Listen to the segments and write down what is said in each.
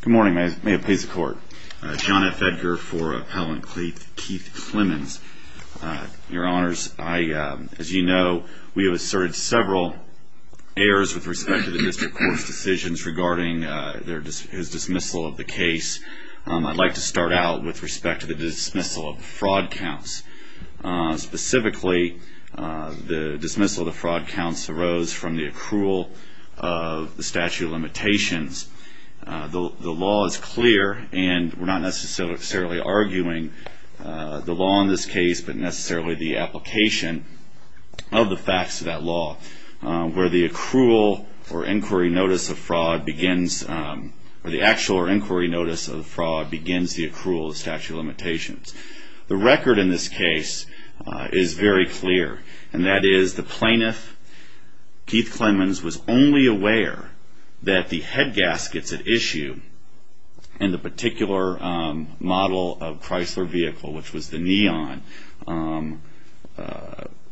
Good morning, may it please the court. John F. Edgar for Appellant Keith Clemens. Your honors, as you know, we have asserted several errors with respect to the district court's decisions regarding his dismissal of the case. I'd like to start out with respect to the dismissal of fraud counts. Specifically, the dismissal of the fraud counts arose from the accrual of the statute of limitations. The law is clear, and we're not necessarily arguing the law in this case, but necessarily the application of the facts of that law, where the accrual or inquiry notice of fraud begins, or the actual inquiry notice of fraud begins the accrual of the statute of limitations. The record in this case is very clear, and that is the plaintiff, Keith Clemens, was only aware that the head gaskets at issue in the particular model of Chrysler vehicle, which was the Neon,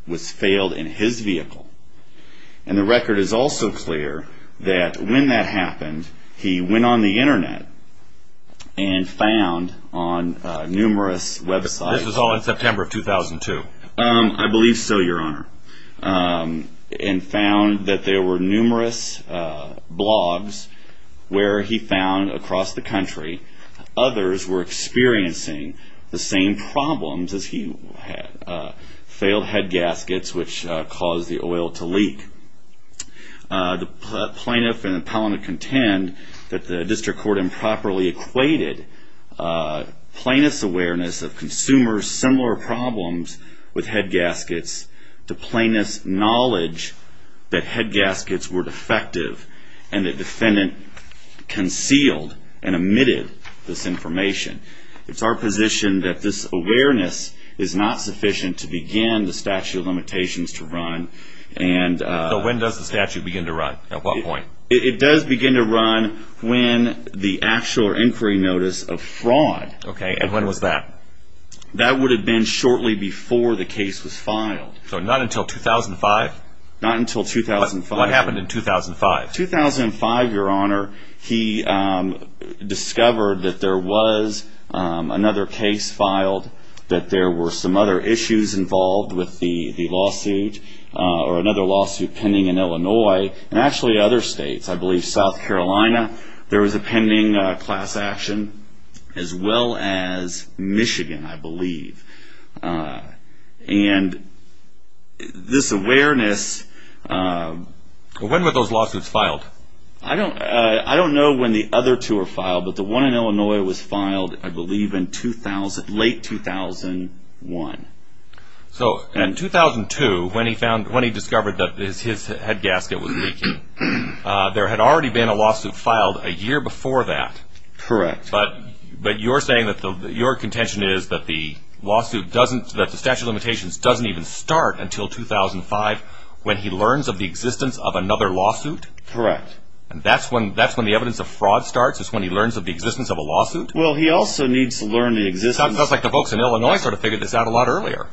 was failed in his vehicle. And the record is also clear that when that happened, he went on the internet and found on numerous websites. This was all in September of 2002? I believe so, your honor. And found that there were numerous blogs where he found across the country, others were experiencing the same problems as he had. Failed head gaskets, which caused the oil to leak. The plaintiff and the appellant contend that the district court improperly equated plaintiff's awareness of consumers' similar problems with head gaskets to plaintiff's knowledge that head gaskets were defective, and the defendant concealed and omitted this information. It's our position that this awareness is not sufficient to begin the statute of limitations to run. So when does the statute begin to run? At what point? It does begin to run when the actual inquiry notice of fraud. Okay, and when was that? That would have been shortly before the case was filed. So not until 2005? Not until 2005. What happened in 2005? 2005, your honor, he discovered that there was another case filed, that there were some other issues involved with the lawsuit, or another lawsuit pending in Illinois, and actually other states. I believe South Carolina, there was a pending class action, as well as Michigan, I believe. And this awareness... When were those lawsuits filed? I don't know when the other two were So in 2002, when he discovered that his head gasket was leaking, there had already been a lawsuit filed a year before that. Correct. But you're saying that your contention is that the statute of limitations doesn't even start until 2005, when he learns of the existence of another lawsuit? Correct. And that's when the evidence of fraud starts, is when he learns of the existence of a lawsuit? Well, he also needs to learn the existence... It sounds like the folks in Illinois sort of figured this out a lot earlier.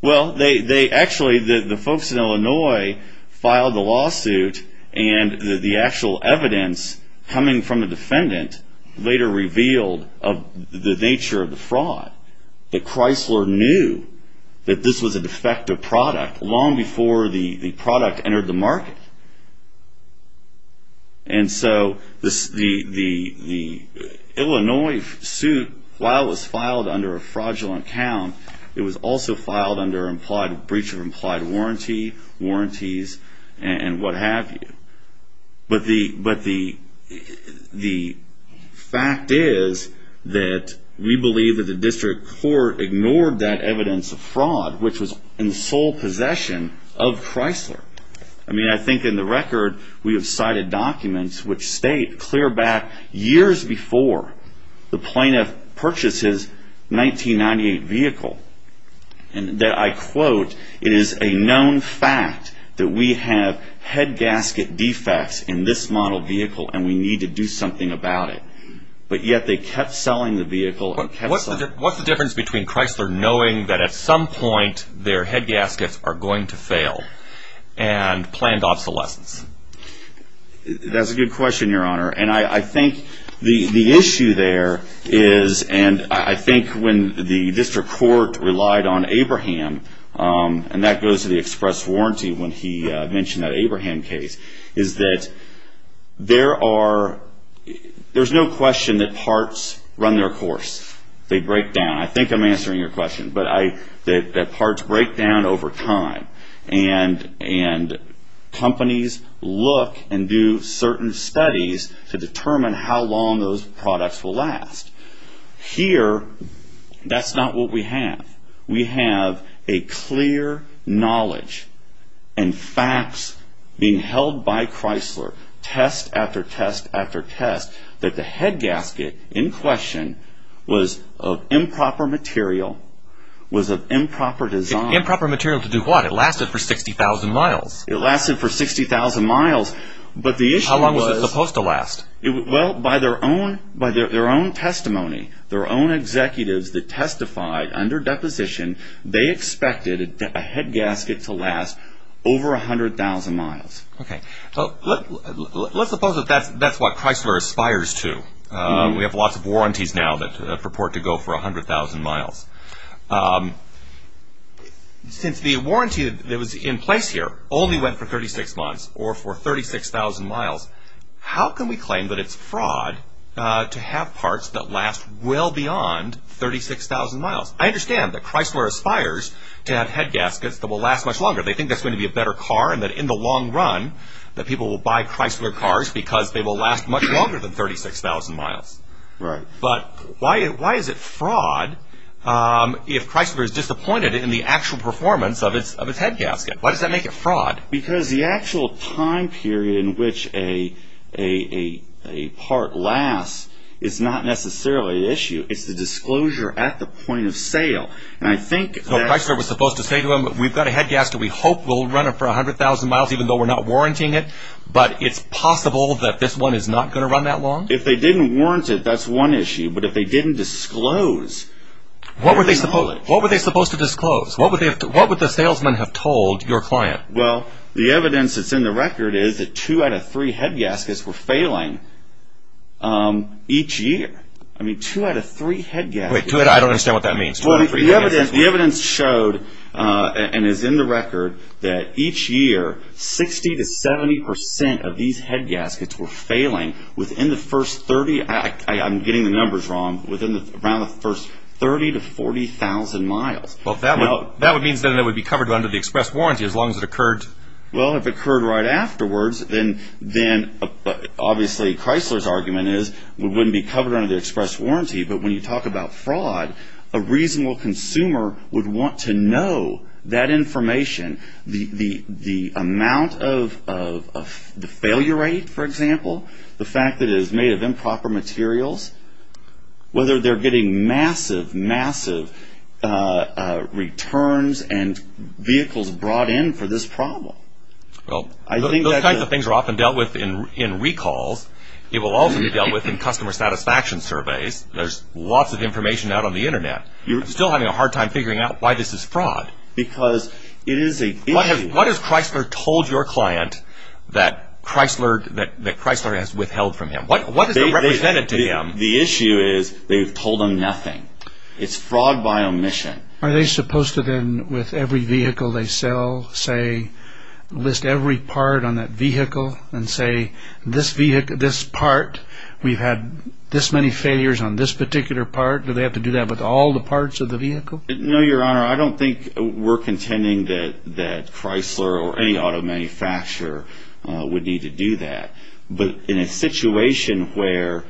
Well, they actually, the folks in Illinois filed the lawsuit, and the actual evidence coming from the defendant later revealed the nature of the fraud. The Chrysler knew that this was a defective product long before the product entered the market. And so the Illinois suit, while it was filed under a fraudulent account, it was also filed under breach of implied warranty, warranties, and what have you. But the fact is that we believe that the district court ignored that evidence of fraud, which was in the sole possession of Chrysler. I mean, I think in the record, we have cited documents which state, clear back years before, the plaintiff purchased his 1998 vehicle. And that I quote, it is a known fact that we have head gasket defects in this model vehicle, and we need to do something about it. But yet they kept selling the vehicle... What's the difference between Chrysler knowing that at some point, their head gaskets are going to fail, and planned obsolescence? That's a good question, Your Honor. And I think the issue there is, and I think when the district court relied on Abraham, and that goes to the express warranty when he mentioned that Abraham case, is that there's no question that parts run their course. They break down. I think I'm answering your question, but that parts break down over time. And companies look and do certain studies to determine how long those products will last. Here, that's not what we have. We have a clear knowledge and facts being held by Chrysler, test after test after test, that the head gasket in question was of improper material, was of improper design. Improper material to do what? It lasted for 60,000 miles. It lasted for 60,000 miles, but the issue was... How long was it supposed to last? Well, by their own testimony, their own executives that testified under deposition, they expected a head gasket to last over 100,000 miles. Let's suppose that's what Chrysler aspires to. We have lots of warranties now that purport to go for 100,000 miles. Since the warranty that was in place here only went for 36 months, or for 36,000 miles, how can we claim that it's fraud to have parts that last well beyond 36,000 miles? I understand that Chrysler aspires to have head gaskets that will last much longer. They think that's going to be a better car, and that in the long run, that people will buy Chrysler cars because they will last much longer than 36,000 miles. Right. But why is it fraud if Chrysler is disappointed in the actual performance of its head gasket? Why does that make it fraud? Because the actual time period in which a part lasts is not necessarily the issue. It's the disclosure at the point of sale. So Chrysler was supposed to say to them, we've got a head gasket. We hope we'll run it for 100,000 miles even though we're not warrantying it. But it's possible that this one is not going to run that long? If they didn't warrant it, that's one issue. But if they didn't disclose... What were they supposed to disclose? What would the salesman have told your client? Well, the evidence that's in the record is that two out of three head gaskets were failing each year. I mean, two out of three head gaskets. I don't understand what that means. The evidence showed and is in the record that each year, 60 to 70 percent of these head gaskets were failing within the first 30... I'm getting the numbers wrong. Within around the first 30 to 40,000 miles. Well, that would mean that it would be covered under the express warranty as long as it occurred... Well, if it occurred right afterwards, then obviously Chrysler's argument is it wouldn't be covered under the express warranty. But when you talk about fraud, a reasonable consumer would want to know that information. The amount of the failure rate, for example, the fact that it is made of improper materials, whether they're getting massive, massive returns and vehicles brought in for this problem. Well, those types of things are often dealt with in recalls. It will also be dealt with in customer satisfaction surveys. There's lots of information out on the Internet. You're still having a hard time figuring out why this is fraud. Because it is a... What has Chrysler told your client that Chrysler has withheld from him? What does it represent to them? The issue is they've told them nothing. It's fraud by omission. Are they supposed to then, with every vehicle they sell, say, list every part on that vehicle and say, this vehicle, this part, we've had this many failures on this particular part. Do they have to do that with all the parts of the vehicle? No, Your Honor. I don't think we're contending that Chrysler or any auto manufacturer would need to do that. But in a situation where...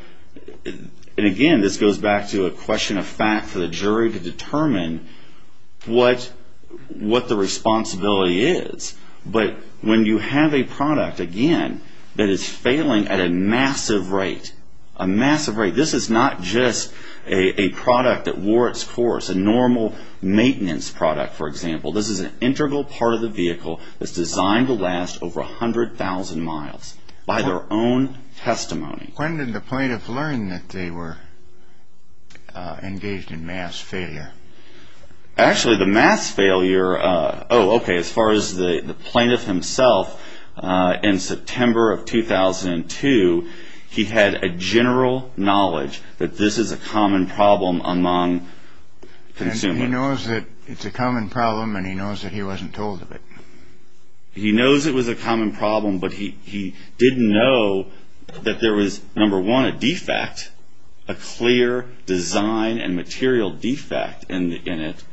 And again, this goes back to a question of fact for the jury to determine what the responsibility is. But when you have a product, again, that is failing at a massive rate, a massive rate, this is not just a product that wore its course, a normal maintenance product, for example. This is an integral part of the vehicle that's designed to last over 100,000 miles. By their own testimony. When did the plaintiff learn that they were engaged in mass failure? Actually, the mass failure... Oh, okay, as far as the plaintiff himself, in September of 2002, he had a general knowledge that this is a common problem among consumers. And he knows that it's a common problem, and he knows that he wasn't told of it. He knows it was a common problem, but he didn't know that there was, number one, a defect, a clear design and material defect in it,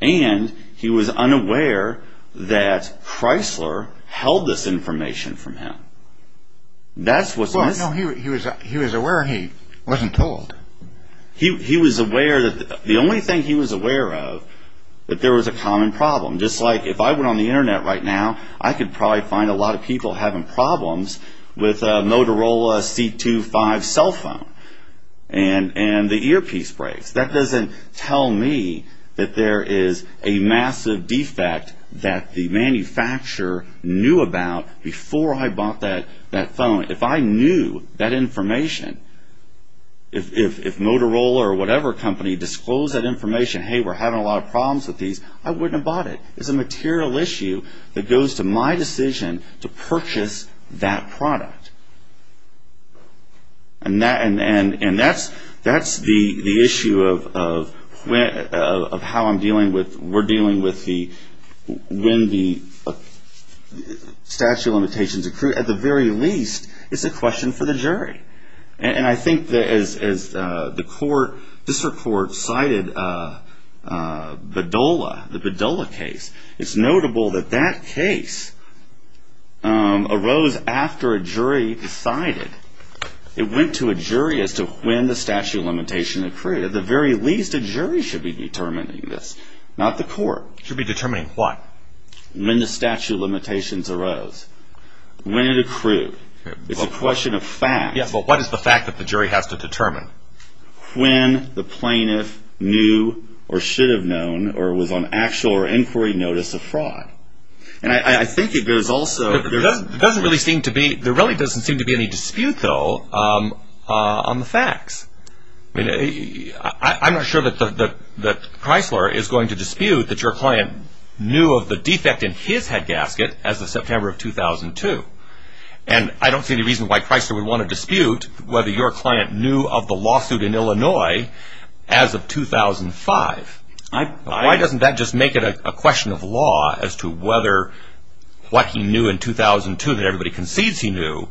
and he was unaware that Chrysler held this information from him. Well, no, he was aware he wasn't told. He was aware that the only thing he was aware of, that there was a common problem. Just like if I went on the Internet right now, I could probably find a lot of people having problems with a Motorola C2-5 cell phone. And the earpiece breaks. That doesn't tell me that there is a massive defect that the manufacturer knew about before I bought that phone. If I knew that information, if Motorola or whatever company disclosed that information, hey, we're having a lot of problems with these, I wouldn't have bought it. It's a material issue that goes to my decision to purchase that product. And that's the issue of how I'm dealing with... When the statute of limitations accrued, at the very least, it's a question for the jury. And I think as the court, district court, cited Bedolla, the Bedolla case, it's notable that that case arose after a jury decided. It went to a jury as to when the statute of limitations accrued. At the very least, a jury should be determining this, not the court. Should be determining what? When the statute of limitations arose. When it accrued. It's a question of facts. Yes, but what is the fact that the jury has to determine? When the plaintiff knew or should have known or was on actual or inquiry notice of fraud. And I think there's also... I'm not sure that Chrysler is going to dispute that your client knew of the defect in his head gasket as of September of 2002. And I don't see any reason why Chrysler would want to dispute whether your client knew of the lawsuit in Illinois as of 2005. Why doesn't that just make it a question of law as to whether what he knew in 2002 that everybody concedes he knew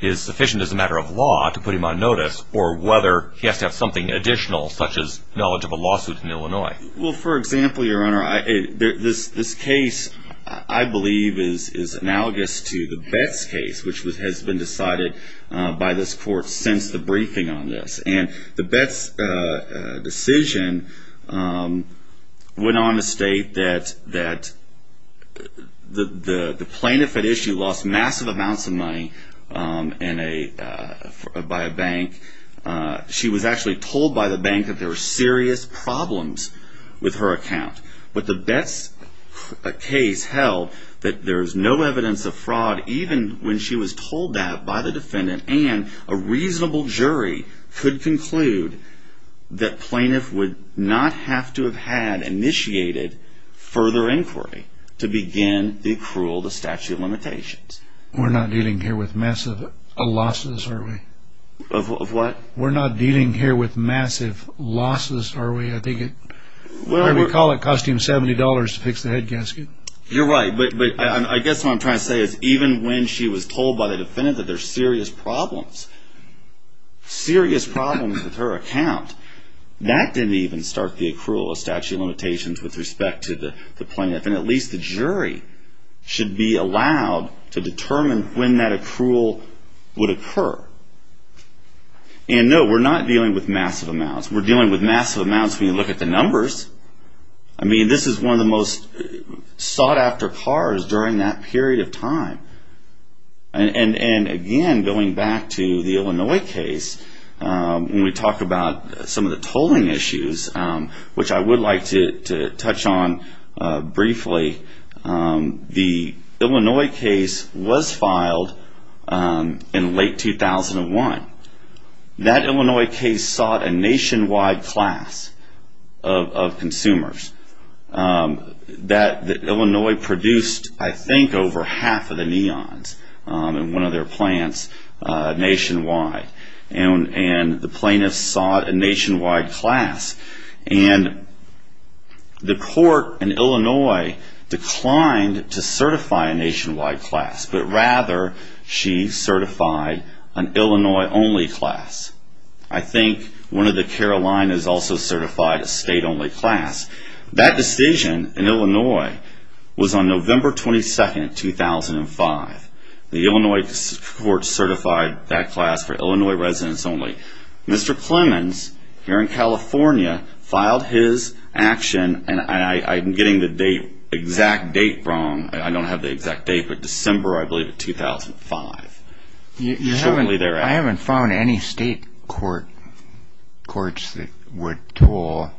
is sufficient as a matter of law to put him on notice or whether he has to have something additional such as knowledge of a lawsuit in Illinois. Well, for example, your honor, this case I believe is analogous to the Betts case which has been decided by this court since the briefing on this. And the Betts decision went on to state that the plaintiff at issue lost massive amounts of money by a bank. She was actually told by the bank that there were serious problems with her account. But the Betts case held that there's no evidence of fraud even when she was told that by the defendant and a reasonable jury could conclude that plaintiff would not have to have had initiated further inquiry We're not dealing here with massive losses, are we? Of what? We're not dealing here with massive losses, are we? I think we call it costing $70 to fix the head gasket. You're right. But I guess what I'm trying to say is even when she was told by the defendant that there's serious problems, serious problems with her account, that didn't even start the accrual of statute of limitations with respect to the plaintiff. And at least the jury should be allowed to determine when that accrual would occur. And no, we're not dealing with massive amounts. We're dealing with massive amounts when you look at the numbers. I mean, this is one of the most sought-after cars during that period of time. And again, going back to the Illinois case, when we talk about some of the tolling issues, which I would like to touch on briefly, the Illinois case was filed in late 2001. That Illinois case sought a nationwide class of consumers. That Illinois produced, I think, over half of the neons in one of their plants nationwide. And the plaintiffs sought a nationwide class. And the court in Illinois declined to certify a nationwide class, but rather she certified an Illinois-only class. I think one of the Carolinas also certified a state-only class. That decision in Illinois was on November 22, 2005. The Illinois court certified that class for Illinois residents only. Mr. Clemens, here in California, filed his action, and I'm getting the exact date wrong. I don't have the exact date, but December, I believe, of 2005. I haven't found any state courts that would toll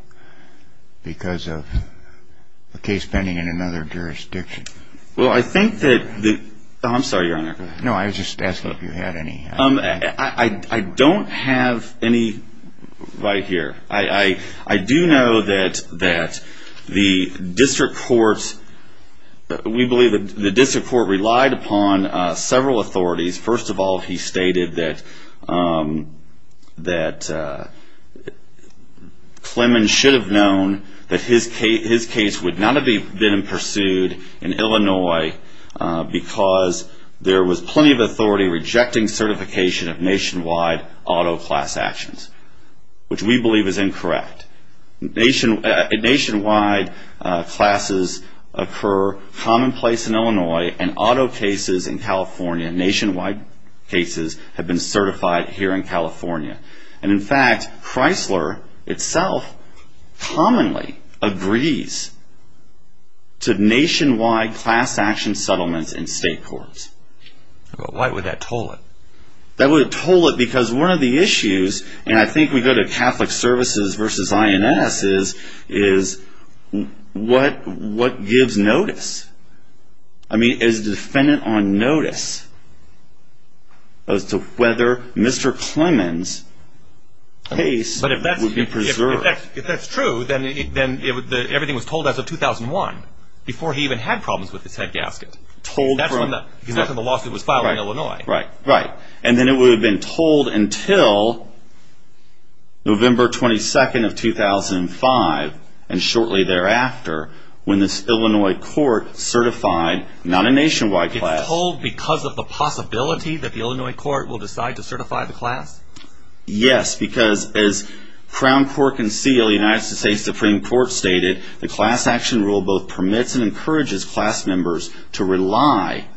because of a case pending in another jurisdiction. I'm sorry, Your Honor. No, I was just asking if you had any. I don't have any right here. I do know that the district court relied upon several authorities. First of all, he stated that Clemens should have known that his case would not have been pursued in Illinois because there was plenty of authority rejecting certification of nationwide auto class actions, which we believe is incorrect. Nationwide classes occur commonplace in Illinois, and auto cases in California, nationwide cases, have been certified here in California. In fact, Chrysler itself commonly agrees to nationwide class action settlements in state courts. Why would that toll it? That would toll it because one of the issues, and I think we go to Catholic Services versus INS, is what gives notice? I mean, is the defendant on notice as to whether Mr. Clemens' case would be preserved? If that's true, then everything was told as of 2001, before he even had problems with his head gasket. That's when the lawsuit was filed in Illinois. Right, and then it would have been told until November 22nd of 2005, and shortly thereafter, when this Illinois court certified not a nationwide class. It's told because of the possibility that the Illinois court will decide to certify the class? Yes, because as Crown Court and seal, the United States Supreme Court stated, the class action rule both permits and encourages class members to rely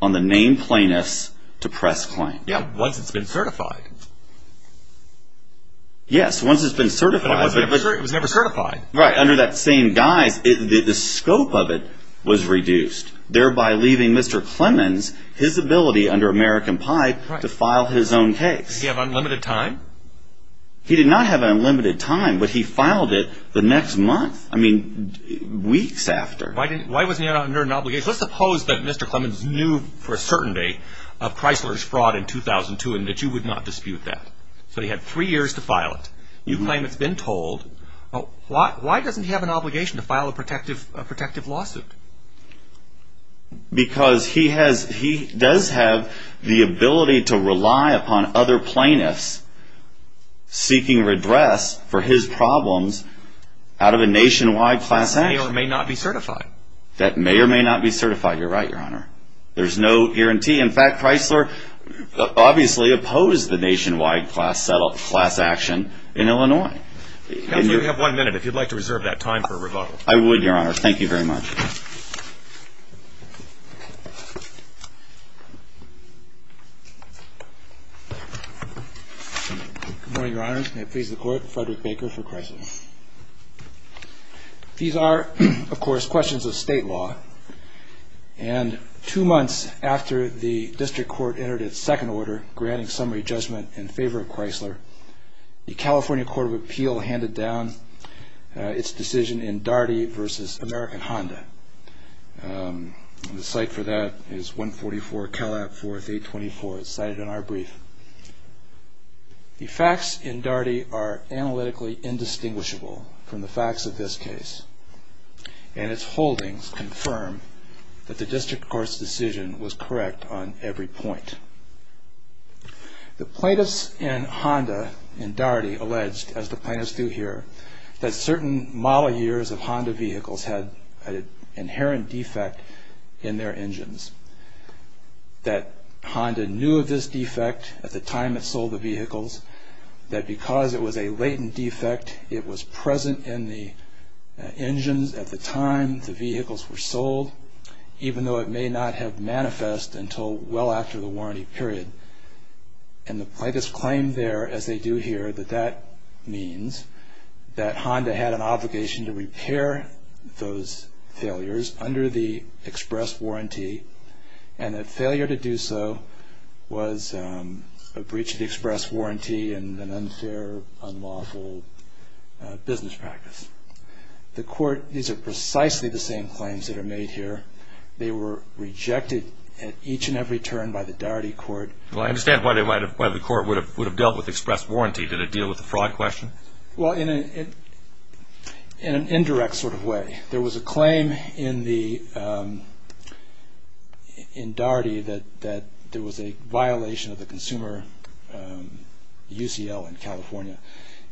on the named plaintiffs to press claim. Once it's been certified. Yes, once it's been certified. But it was never certified. Right, under that same guise, the scope of it was reduced, thereby leaving Mr. Clemens his ability under American Pi to file his own case. Did he have unlimited time? He did not have unlimited time, but he filed it the next month, I mean, weeks after. Why wasn't he under an obligation? Let's suppose that Mr. Clemens knew for a certain day of Chrysler's fraud in 2002 and that you would not dispute that. So he had three years to file it. You claim it's been told. Why doesn't he have an obligation to file a protective lawsuit? Because he does have the ability to rely upon other plaintiffs seeking redress for his problems out of a nationwide class action. That may or may not be certified. That may or may not be certified, you're right, Your Honor. There's no guarantee. In fact, Chrysler obviously opposed the nationwide class action in Illinois. Counsel, you have one minute if you'd like to reserve that time for rebuttal. I would, Your Honor. Thank you very much. Good morning, Your Honors. May it please the Court, Frederick Baker for Chrysler. These are, of course, questions of state law. And two months after the district court entered its second order granting summary judgment in favor of Chrysler, the California Court of Appeal handed down its decision in Daugherty v. American Honda. The cite for that is 144 Calab 4th 824. It's cited in our brief. The facts in Daugherty are analytically indistinguishable from the facts of this case, and its holdings confirm that the district court's decision was correct on every point. The plaintiffs in Honda in Daugherty alleged, as the plaintiffs do here, that certain model years of Honda vehicles had an inherent defect in their engines, that Honda knew of this defect at the time it sold the vehicles, that because it was a latent defect, it was present in the engines at the time the vehicles were sold, even though it may not have manifest until well after the warranty period. And the plaintiffs claim there, as they do here, that that means that Honda had an obligation to repair those failures under the express warranty, and that failure to do so was a breach of the express warranty and an unfair, unlawful business practice. These are precisely the same claims that are made here. They were rejected at each and every turn by the Daugherty court. Well, I understand why the court would have dealt with express warranty. Did it deal with the fraud question? Well, in an indirect sort of way. There was a claim in Daugherty that there was a violation of the consumer UCL in California,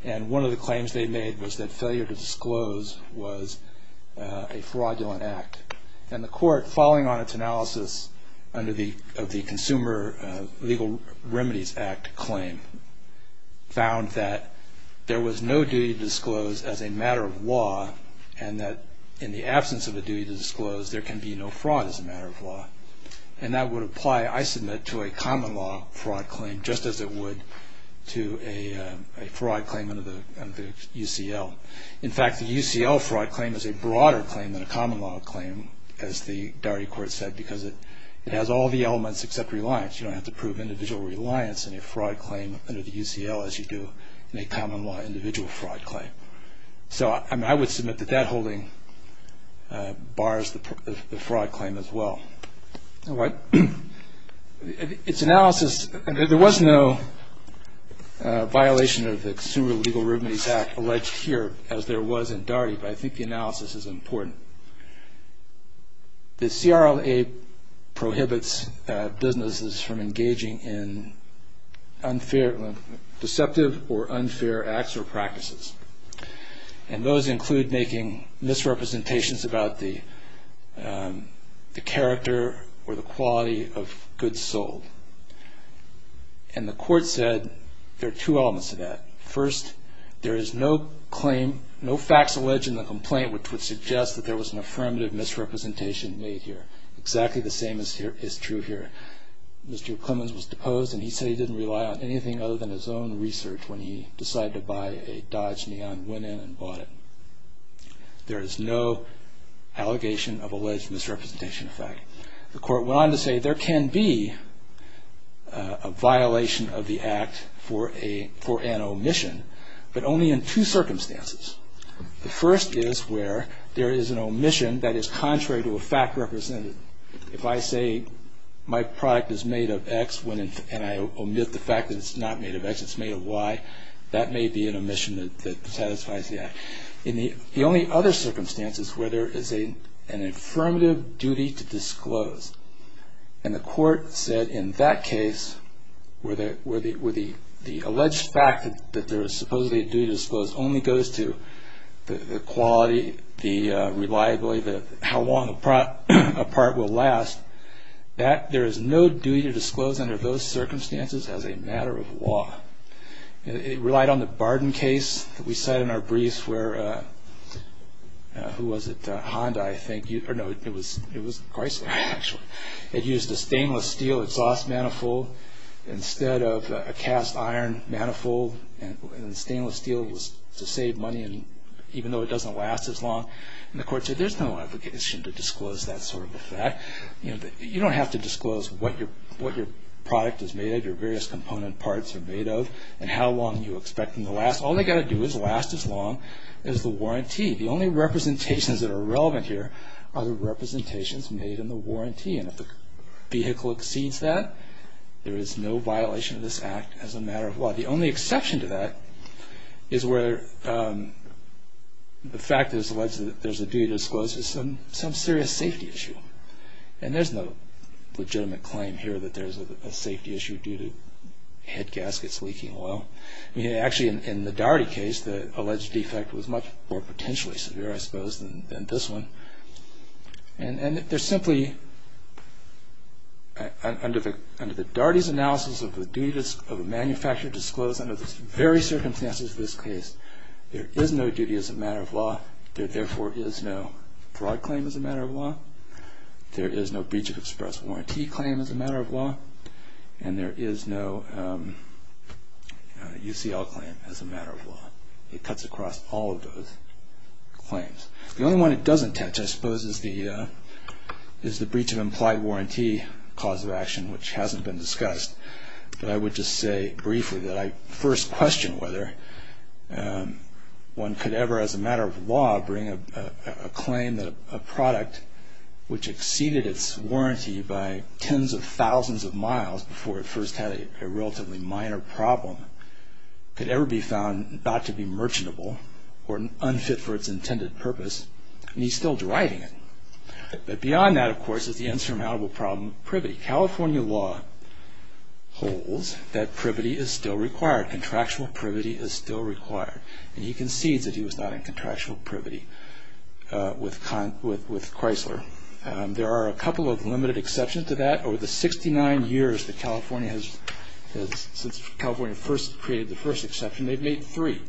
and one of the claims they made was that failure to disclose was a fraudulent act. And the court, following on its analysis of the Consumer Legal Remedies Act claim, found that there was no duty to disclose as a matter of law, and that in the absence of a duty to disclose, there can be no fraud as a matter of law. And that would apply, I submit, to a common law fraud claim, just as it would to a fraud claim under the UCL. In fact, the UCL fraud claim is a broader claim than a common law claim, as the Daugherty court said, because it has all the elements except reliance. You don't have to prove individual reliance in a fraud claim under the UCL, as you do in a common law individual fraud claim. So I would submit that that holding bars the fraud claim as well. All right. Its analysis, there was no violation of the Consumer Legal Remedies Act alleged here, as there was in Daugherty, but I think the analysis is important. The CRLA prohibits businesses from engaging in unfair, deceptive or unfair acts or practices, and those include making misrepresentations about the character or the quality of goods sold. And the court said there are two elements to that. First, there is no claim, no facts alleged in the complaint, which would suggest that there was an affirmative misrepresentation made here. Exactly the same is true here. Mr. Clemens was deposed, and he said he didn't rely on anything other than his own research when he decided to buy a Dodge Neon, went in and bought it. There is no allegation of alleged misrepresentation of fact. The court went on to say there can be a violation of the act for an omission, but only in two circumstances. The first is where there is an omission that is contrary to a fact represented. If I say my product is made of X and I omit the fact that it's not made of X, it's made of Y, that may be an omission that satisfies the act. The only other circumstance is where there is an affirmative duty to disclose, and the court said in that case where the alleged fact that there is supposedly a duty to disclose only goes to the quality, the reliability, how long a part will last. There is no duty to disclose under those circumstances as a matter of law. It relied on the Barden case that we cite in our briefs where, who was it, Honda, I think. It was Chrysler, actually. It used a stainless steel exhaust manifold instead of a cast iron manifold, and the stainless steel was to save money even though it doesn't last as long, and the court said there's no obligation to disclose that sort of a fact. You don't have to disclose what your product is made of, your various component parts are made of, and how long you expect them to last. All they've got to do is last as long as the warranty. The only representations that are relevant here are the representations made in the warranty, and if the vehicle exceeds that, there is no violation of this act as a matter of law. The only exception to that is where the fact that it's alleged that there's a duty to disclose is some serious safety issue, and there's no legitimate claim here that there's a safety issue due to head gaskets leaking oil. Actually, in the Daugherty case, the alleged defect was much more potentially severe, I suppose, than this one, and there's simply, under the Daugherty's analysis of the duty of a manufacturer to disclose under the very circumstances of this case, there is no duty as a matter of law. There, therefore, is no fraud claim as a matter of law. There is no breach of express warranty claim as a matter of law, and there is no UCL claim as a matter of law. It cuts across all of those claims. The only one it doesn't touch, I suppose, is the breach of implied warranty cause of action, which hasn't been discussed, but I would just say briefly that I first question whether one could ever, as a matter of law, bring a claim that a product which exceeded its warranty by tens of thousands of miles before it first had a relatively minor problem could ever be found not to be merchantable or unfit for its intended purpose, and he's still deriding it. But beyond that, of course, is the insurmountable problem of privity. California law holds that privity is still required, contractual privity is still required, and he concedes that he was not in contractual privity with Chrysler. There are a couple of limited exceptions to that. Over the 69 years that California has, since California first created the first exception, they've made three.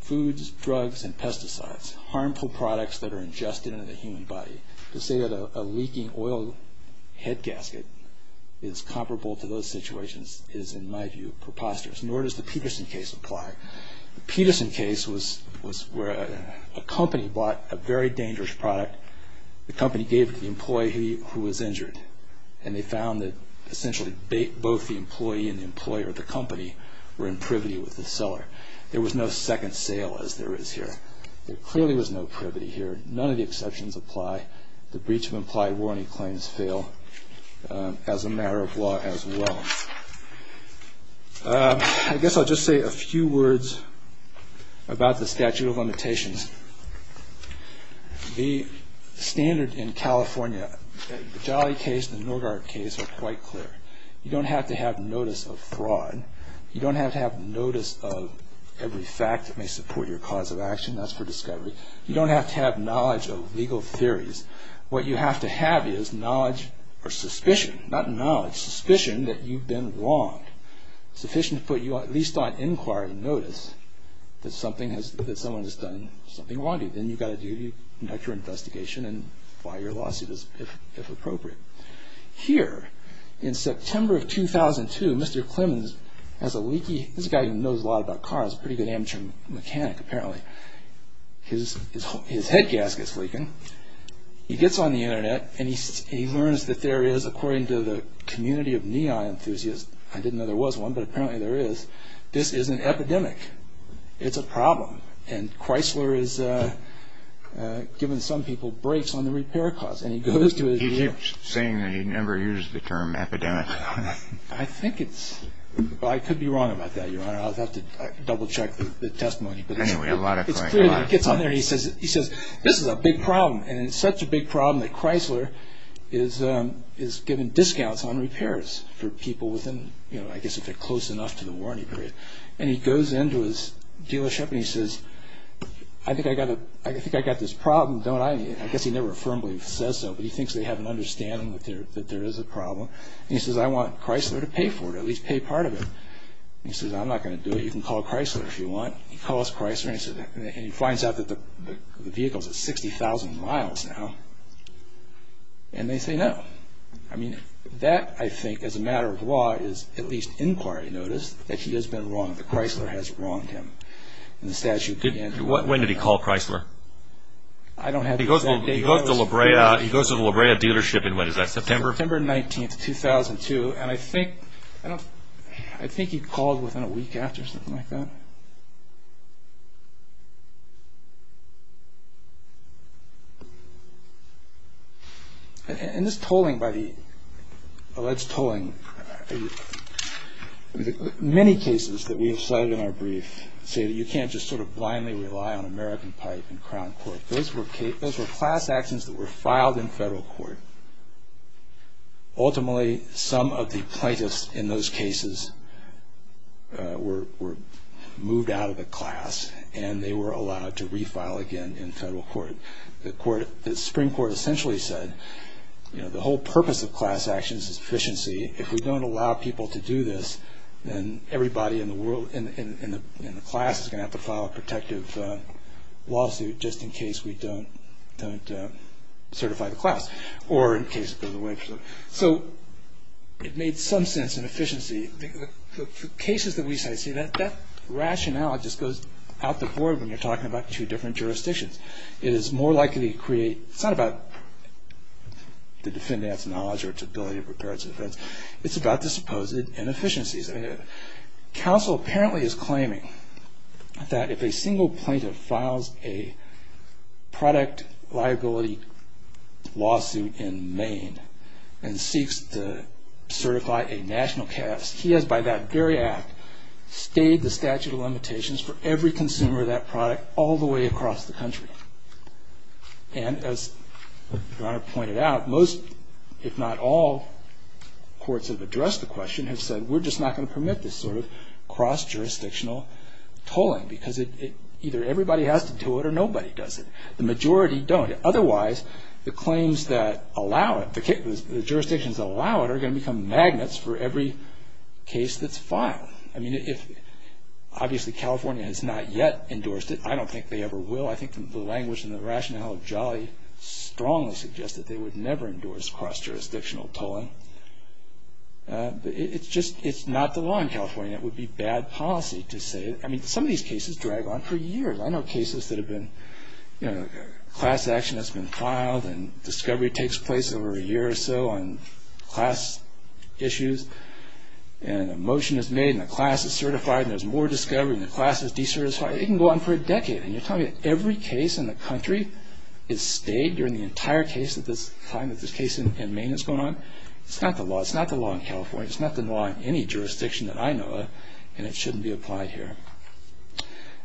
Foods, drugs, and pesticides, harmful products that are ingested into the human body. To say that a leaking oil head gasket is comparable to those situations is, in my view, preposterous, nor does the Peterson case apply. The Peterson case was where a company bought a very dangerous product, the company gave it to the employee who was injured, and they found that essentially both the employee and the employer, the company, were in privity with the seller. There was no second sale, as there is here. There clearly was no privity here. None of the exceptions apply. The breach of implied warranty claims fail as a matter of law as well. I guess I'll just say a few words about the statute of limitations. The standard in California, the Jolly case and the Norgard case are quite clear. You don't have to have notice of fraud. You don't have to have notice of every fact that may support your cause of action. That's for discovery. You don't have to have knowledge of legal theories. What you have to have is knowledge or suspicion, not knowledge, but suspicion that you've been wronged. It's sufficient to put you at least on inquiry notice that someone has done something wrong to you. Then you've got a duty to conduct your investigation and file your lawsuit if appropriate. Here, in September of 2002, Mr. Clemens has a leaky, this guy knows a lot about cars, a pretty good amateur mechanic apparently, his head gasket's leaking. He gets on the Internet and he learns that there is, according to the community of neon enthusiasts, I didn't know there was one, but apparently there is, this is an epidemic. It's a problem. And Chrysler has given some people breaks on the repair costs. He keeps saying that he never used the term epidemic. I could be wrong about that, Your Honor. I'll have to double check the testimony. It's clear that he gets on there and he says, this is a big problem, and it's such a big problem that Chrysler is giving discounts on repairs for people within, I guess if they're close enough to the warranty period. And he goes into his dealership and he says, I think I've got this problem, don't I? I guess he never affirmably says so, but he thinks they have an understanding that there is a problem. And he says, I want Chrysler to pay for it, at least pay part of it. He says, I'm not going to do it. You can call Chrysler if you want. He calls Chrysler and he finds out that the vehicle is at 60,000 miles now, and they say no. I mean, that I think as a matter of law is at least inquiry notice that he has been wrong, that Chrysler has wronged him. When did he call Chrysler? I don't have the exact date. He goes to the La Brea dealership in, when is that, September? September 19th, 2002. And I think he called within a week after, something like that. In this tolling by the alleged tolling, many cases that we have cited in our brief say that you can't just sort of blindly rely on American Pipe and Crown Court. Those were class actions that were filed in federal court. Ultimately, some of the plaintiffs in those cases were moved out of the class, and they were allowed to refile again in federal court. The Supreme Court essentially said, you know, the whole purpose of class actions is efficiency. If we don't allow people to do this, then everybody in the world, in the class, is going to have to file a protective lawsuit just in case we don't certify the class or in case it goes away. So it made some sense in efficiency. The cases that we cite say that that rationale just goes out the board when you're talking about two different jurisdictions. It is more likely to create, it's not about the defendant's knowledge or its ability to prepare its defense. It's about the supposed inefficiencies. Counsel apparently is claiming that if a single plaintiff files a product liability lawsuit in Maine and seeks to certify a national cast, he has by that very act stayed the statute of limitations for every consumer of that product all the way across the country. And as your Honor pointed out, most, if not all, courts have addressed the question and have said we're just not going to permit this sort of cross-jurisdictional tolling because either everybody has to do it or nobody does it. The majority don't. Otherwise, the claims that allow it, the jurisdictions that allow it are going to become magnets for every case that's filed. I mean, obviously California has not yet endorsed it. I don't think they ever will. I think the language and the rationale of Jolly strongly suggests that they would never endorse cross-jurisdictional tolling. It's just not the law in California. It would be bad policy to say it. I mean, some of these cases drag on for years. I know cases that have been, you know, class action that's been filed and discovery takes place over a year or so on class issues and a motion is made and a class is certified and there's more discovery and the class is decertified. It can go on for a decade. And you're telling me every case in the country is stayed during the entire case at this time that this case in Maine is going on? It's not the law. It's not the law in California. It's not the law in any jurisdiction that I know of and it shouldn't be applied here.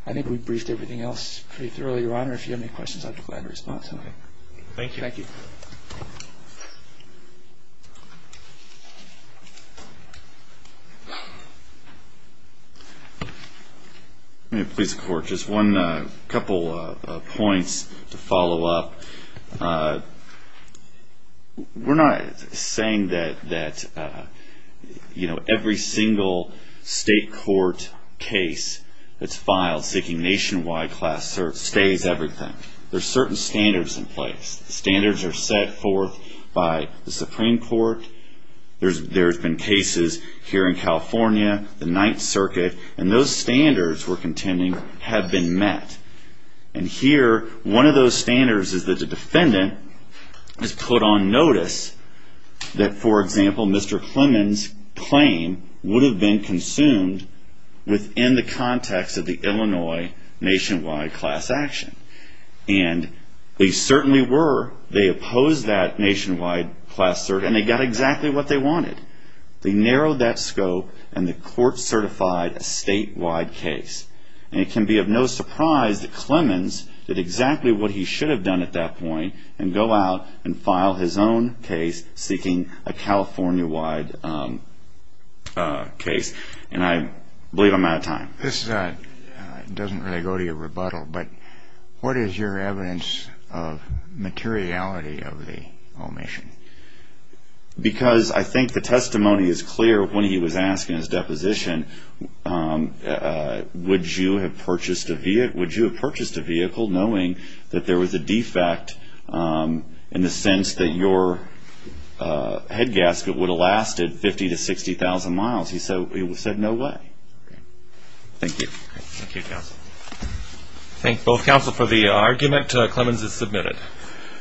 I think we've briefed everything else pretty thoroughly, Your Honor. If you have any questions, I'd be glad to respond. Thank you. Thank you. Let me please, Court, just one couple of points to follow up. We're not saying that, you know, every single state court case that's filed seeking nationwide class search stays everything. There's certain standards in place. Standards are set forth by the Supreme Court. There's been cases here in California, the Ninth Circuit, and those standards we're contending have been met. And here, one of those standards is that the defendant has put on notice that, for example, Mr. Clement's claim would have been consumed within the context of the Illinois nationwide class action. And they certainly were. They opposed that nationwide class search and they got exactly what they wanted. They narrowed that scope and the court certified a statewide case. And it can be of no surprise that Clements did exactly what he should have done at that point and go out and file his own case seeking a California-wide case. And I believe I'm out of time. This doesn't really go to your rebuttal, but what is your evidence of materiality of the omission? Because I think the testimony is clear when he was asking his deposition, would you have purchased a vehicle knowing that there was a defect in the sense that your head gasket would have lasted 50,000 to 60,000 miles? He said no way. Thank you. Thank you, counsel. Thank both counsel for the argument. Clements is submitted.